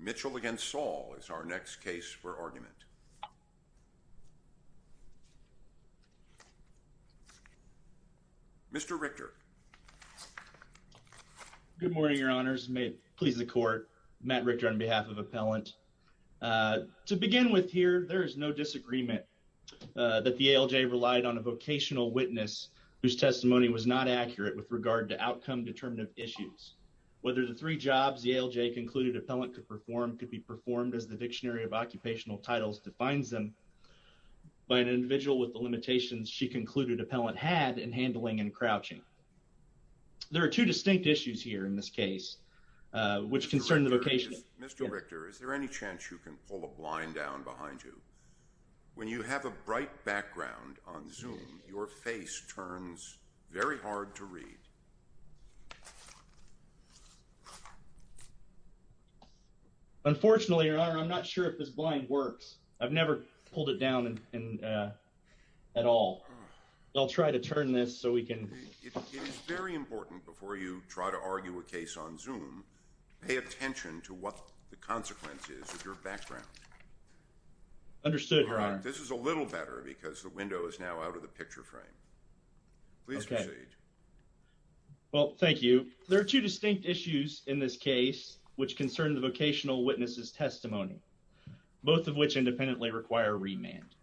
Mitchell against Saul is our next case for argument. Mr. Richter. Good morning, your honors, and may it please the court, Matt Richter on behalf of Appellant. To begin with here, there is no disagreement that the ALJ relied on a vocational witness whose testimony was not accurate with regard to outcome-determinative issues. Whether the three jobs the ALJ concluded Appellant could perform could be performed as the Dictionary of Occupational Titles defines them by an individual with the limitations she concluded Appellant had in handling and crouching. There are two distinct issues here in this case, which concern the vocation. Mr. Richter, is there any chance you can pull a blind down behind you? When you have a bright background on Zoom, your face turns very hard to read. Unfortunately, your honor, I'm not sure if this blind works. I've never pulled it down at all. I'll try to turn this so we can. It is very important before you try to argue a case on Zoom to pay attention to what the consequence is of your background. Understood, your honor. This is a little better because the window is now out of the picture frame. Please proceed. Well, thank you. There are two distinct issues in this case, which concern the vocational witness's testimony, both of which independently require remand.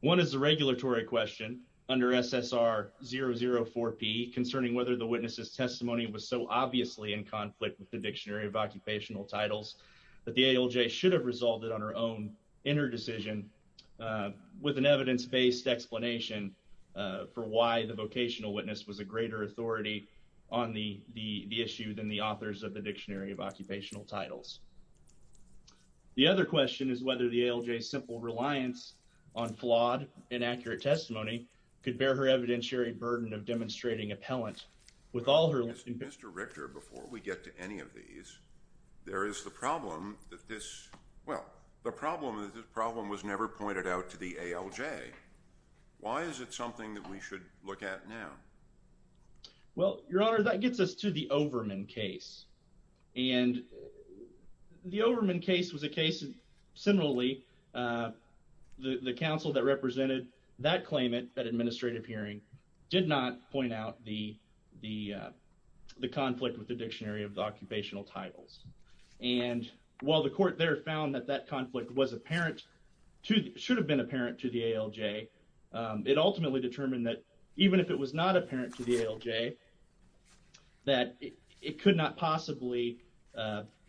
One is the regulatory question under SSR 004P concerning whether the witness's testimony was so obviously in conflict with the Dictionary of Occupational Titles that the ALJ should have resolved it on her own in her decision with an evidence-based explanation for why the vocational witness was a greater authority on the issue than the authors of the Dictionary of Occupational Titles. The other question is whether the ALJ's simple reliance on flawed, inaccurate testimony could bear her evidentiary burden of demonstrating appellant. Mr. Richter, before we get to any of these, there is the problem that this was never pointed out to the ALJ. Why is it something that we should look at now? Well, your honor, that gets us to the Overman case. And the Overman case was a case similarly. The counsel that represented that claimant at administrative hearing did not point out the conflict with the Dictionary of Occupational Titles. And while the court there found that that conflict should have been apparent to the ALJ, it ultimately determined that even if it was not apparent to the ALJ, that it could not possibly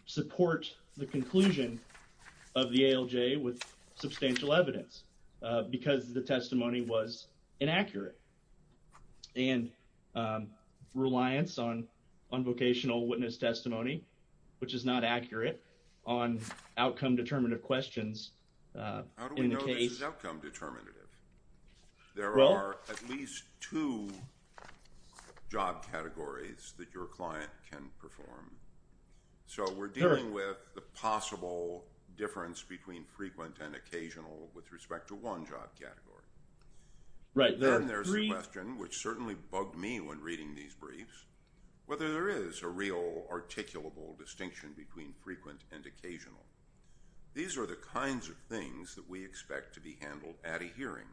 support the conclusion of the ALJ with substantial evidence because the testimony was inaccurate. And reliance on vocational witness testimony, which is not accurate on outcome-determinative questions in the case. How do we know this is outcome-determinative? There are at least two job categories that your client can perform. So we're dealing with the possible difference between frequent and occasional with respect to one job category. Then there's the question, which certainly bugged me when reading these briefs, whether there is a real articulable distinction between frequent and occasional. These are the kinds of things that we expect to be handled at a hearing.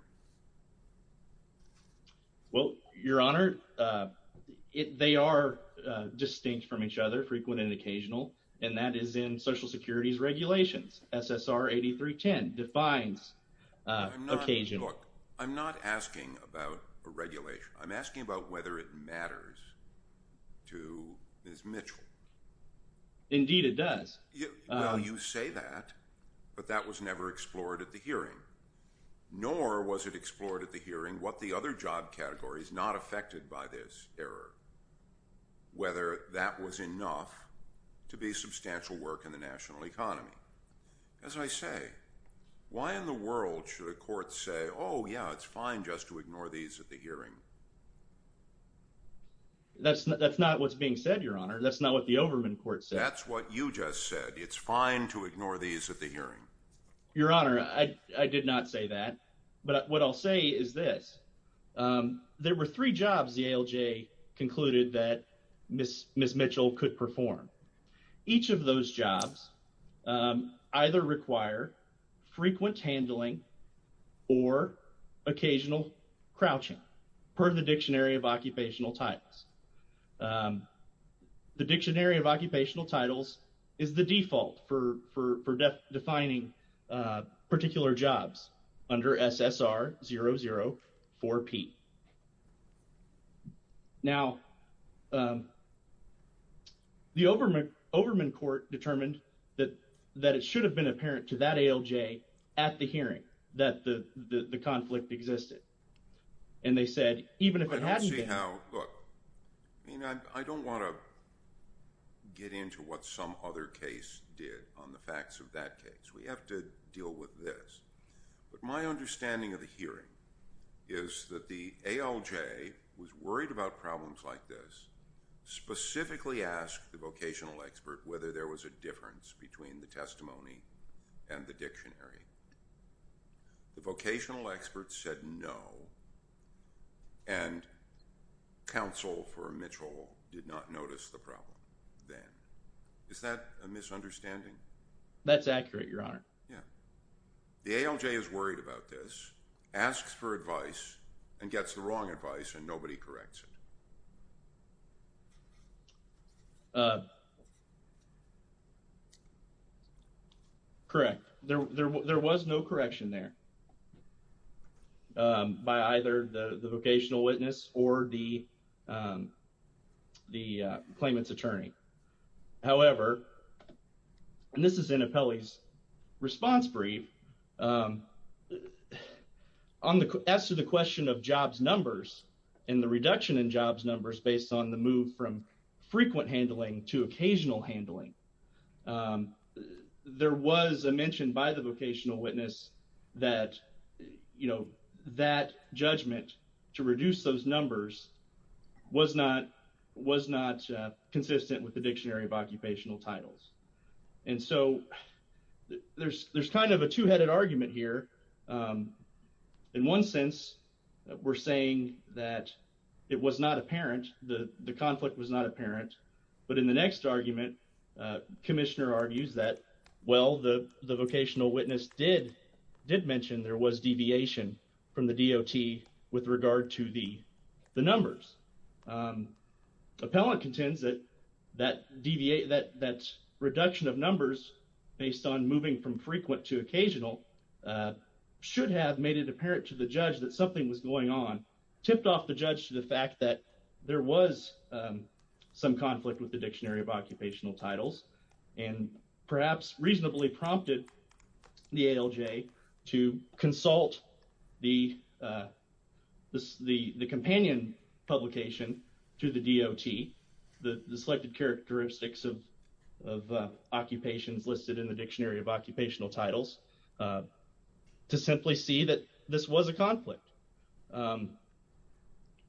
Well, your honor, they are distinct from each other, frequent and occasional, and that is in Social Security's regulations. SSR 8310 defines occasional. Look, I'm not asking about regulation. I'm asking about whether it matters to Ms. Mitchell. Indeed it does. Well, you say that, but that was never explored at the hearing, nor was it explored at the hearing what the other job categories not affected by this error, whether that was enough to be substantial work in the national economy. As I say, why in the world should a court say, oh, yeah, it's fine just to ignore these at the hearing? That's not what's being said, your honor. That's not what the Overman court said. That's what you just said. It's fine to ignore these at the hearing. Your honor, I did not say that. But what I'll say is this. There were three jobs the ALJ concluded that Ms. Mitchell could perform. Each of those jobs either require frequent handling or occasional crouching, per the Dictionary of Occupational Titles. The Dictionary of Occupational Titles is the default for defining particular jobs under SSR004P. Now, the Overman court determined that it should have been apparent to that ALJ at the hearing that the conflict existed. And they said, even if it hadn't been – I don't see how – look, I mean, I don't want to get into what some other case did on the facts of that case. We have to deal with this. But my understanding of the hearing is that the ALJ was worried about problems like this, specifically asked the vocational expert whether there was a difference between the testimony and the dictionary. The vocational expert said no, and counsel for Mitchell did not notice the problem then. Is that a misunderstanding? That's accurate, Your Honor. Yeah. The ALJ is worried about this, asks for advice, and gets the wrong advice, and nobody corrects it. Correct. There was no correction there by either the vocational witness or the claimant's attorney. However, and this is in Apelli's response brief, as to the question of jobs numbers and the reduction in jobs numbers based on the move from frequent handling to occasional handling, there was a mention by the vocational witness that, you know, that judgment to reduce those numbers was not consistent with the Dictionary of Occupational Titles. And so there's kind of a two-headed argument here. In one sense, we're saying that it was not apparent, the conflict was not apparent. But in the next argument, Commissioner argues that, well, the vocational witness did mention there was deviation from the DOT with regard to the numbers. Appellant contends that that reduction of numbers based on moving from frequent to occasional should have made it apparent to the judge that something was going on, tipped off the judge to the fact that there was some conflict with the Dictionary of Occupational Titles, and perhaps reasonably prompted the ALJ to consult the companion publication to the DOT, the selected characteristics of occupations listed in the Dictionary of Occupational Titles, to simply see that this was a conflict.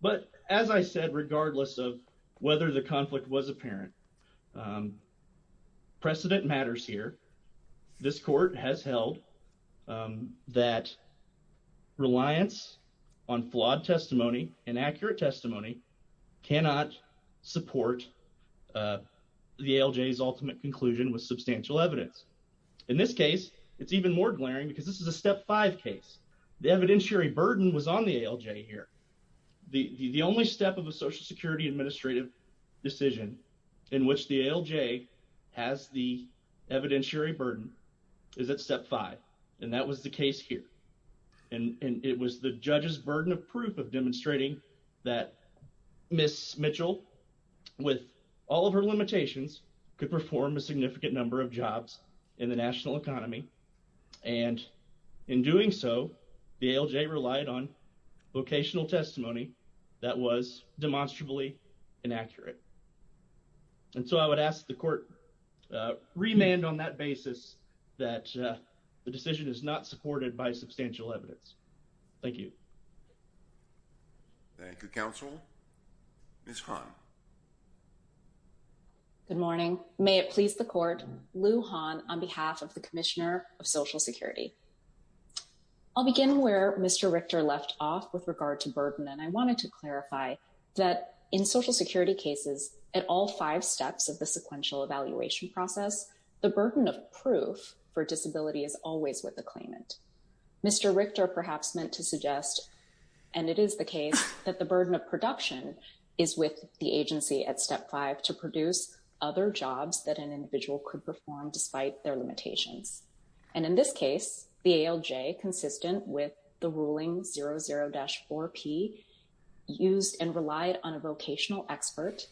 But as I said, regardless of whether the conflict was apparent, precedent matters here. This Court has held that reliance on flawed testimony, inaccurate testimony, cannot support the ALJ's ultimate conclusion with substantial evidence. In this case, it's even more glaring because this is a Step 5 case. The evidentiary burden was on the ALJ here. The only step of a Social Security Administrative decision in which the ALJ has the evidentiary burden is at Step 5, and that was the case here. And it was the judge's burden of proof of demonstrating that Ms. Mitchell, with all of her limitations, could perform a significant number of jobs in the national economy, and in doing so, the ALJ relied on vocational testimony that was demonstrably inaccurate. And so I would ask the Court to remand on that basis that the decision is not supported by substantial evidence. Thank you. Thank you, Counsel. Ms. Hahn. Good morning. May it please the Court, Lou Hahn on behalf of the Commissioner of Social Security. I'll begin where Mr. Richter left off with regard to burden, and I wanted to clarify that in Social Security cases, at all five steps of the sequential evaluation process, the burden of proof for disability is always with the claimant. Mr. Richter perhaps meant to suggest, and it is the case, that the burden of production is with the agency at Step 5 to produce other jobs that an individual could perform despite their limitations. And in this case, the ALJ, consistent with the ruling 00-4P, used and relied on a vocational expert.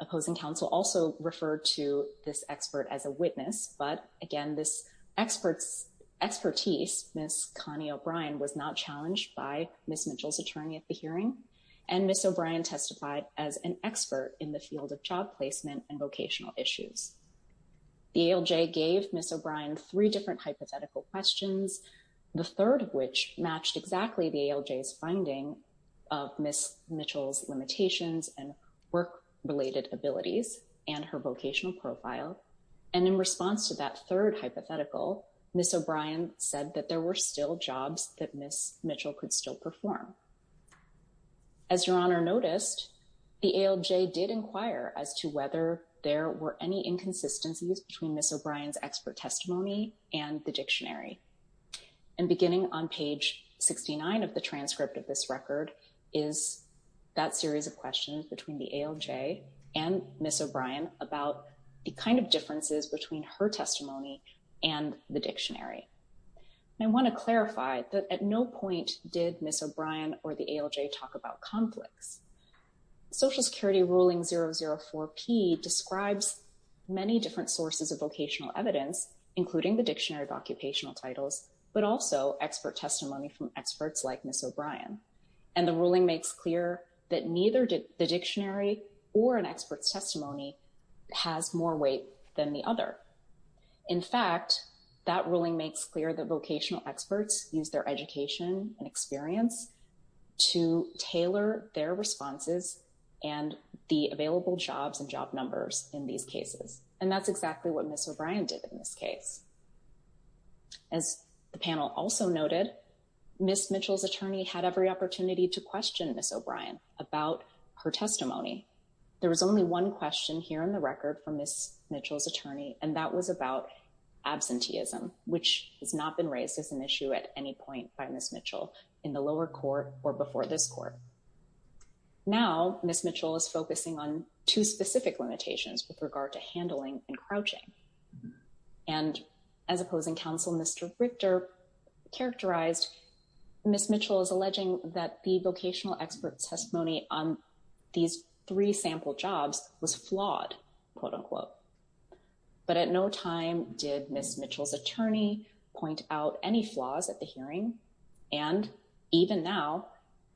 Opposing Counsel also referred to this expert as a witness, but again, this expert's expertise, Ms. Connie O'Brien, was not challenged by Ms. Mitchell's attorney at the hearing. And Ms. O'Brien testified as an expert in the field of job placement and vocational issues. The ALJ gave Ms. O'Brien three different hypothetical questions, the third of which matched exactly the ALJ's finding of Ms. Mitchell's limitations and work-related abilities and her vocational profile. And in response to that third hypothetical, Ms. O'Brien said that there were still jobs that Ms. Mitchell could still perform. As Your Honor noticed, the ALJ did inquire as to whether there were any inconsistencies between Ms. O'Brien's expert testimony and the dictionary. And beginning on page 69 of the transcript of this record is that series of questions between the ALJ and Ms. O'Brien about the kind of differences between her testimony and the dictionary. I want to clarify that at no point did Ms. O'Brien or the ALJ talk about conflicts. Social Security ruling 004-P describes many different sources of vocational evidence, including the dictionary of occupational titles, but also expert testimony from experts like Ms. O'Brien. And the ruling makes clear that neither the dictionary or an expert's testimony has more weight than the other. In fact, that ruling makes clear that vocational experts use their education and experience to tailor their responses and the available jobs and job numbers in these cases. And that's exactly what Ms. O'Brien did in this case. As the panel also noted, Ms. Mitchell's attorney had every opportunity to question Ms. O'Brien about her testimony. There was only one question here in the record from Ms. Mitchell's attorney, and that was about absenteeism, which has not been raised as an issue at any point by Ms. Mitchell in the lower court or before this court. Now, Ms. Mitchell is focusing on two specific limitations with regard to handling and crouching. And as opposing counsel Mr. Richter characterized, Ms. Mitchell is alleging that the vocational expert testimony on these three sample jobs was flawed, quote unquote. But at no time did Ms. Mitchell's attorney point out any flaws at the hearing. And even now,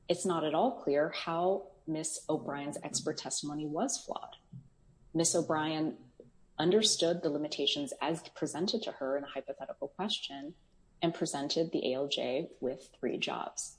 it's not at all clear how Ms. O'Brien's expert testimony was flawed. Ms. O'Brien understood the limitations as presented to her in a hypothetical question and presented the ALJ with three jobs.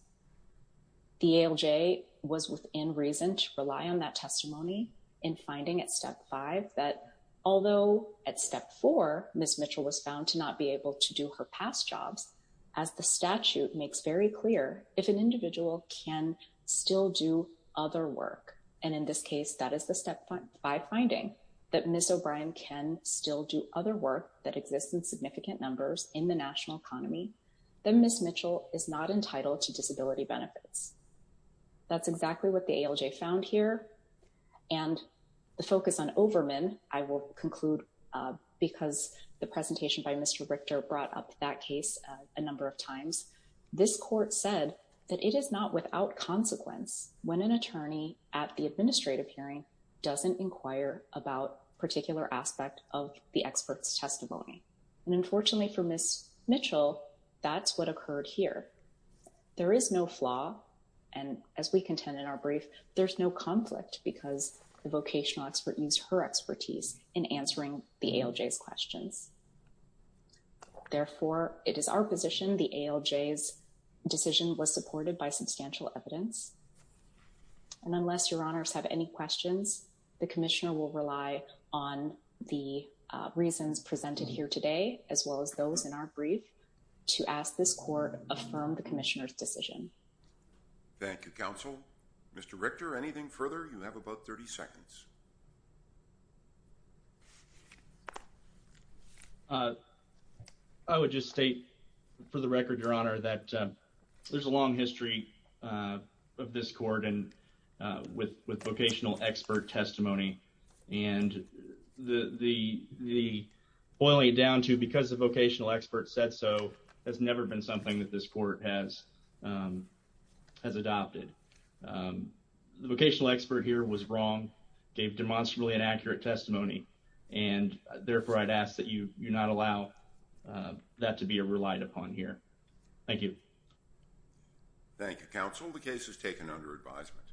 The ALJ was within reason to rely on that testimony in finding at step five that although at step four, Ms. Mitchell was found to not be able to do her past jobs, as the statute makes very clear, if an individual can still do other work. And in this case, that is the step five finding that Ms. O'Brien can still do other work that exists in significant numbers in the national economy. Then Ms. Mitchell is not entitled to disability benefits. That's exactly what the ALJ found here. And the focus on Overman, I will conclude because the presentation by Mr. Richter brought up that case a number of times. This court said that it is not without consequence when an attorney at the administrative hearing doesn't inquire about particular aspect of the expert's testimony. And unfortunately for Ms. Mitchell, that's what occurred here. There is no flaw. And as we contend in our brief, there's no conflict because the vocational expert used her expertise in answering the ALJ's questions. Therefore, it is our position the ALJ's decision was supported by substantial evidence. And unless your honors have any questions, the commissioner will rely on the reasons presented here today, as well as those in our brief, to ask this court affirm the commissioner's decision. Thank you, counsel. Mr. Richter, anything further? You have about 30 seconds. I would just state for the record, your honor, that there's a long history of this court with vocational expert testimony. And the boiling it down to because the vocational expert said so has never been something that this court has adopted. The vocational expert here was wrong, gave demonstrably inaccurate testimony, and therefore I'd ask that you not allow that to be relied upon here. Thank you. Thank you, counsel. The case is taken under advisement.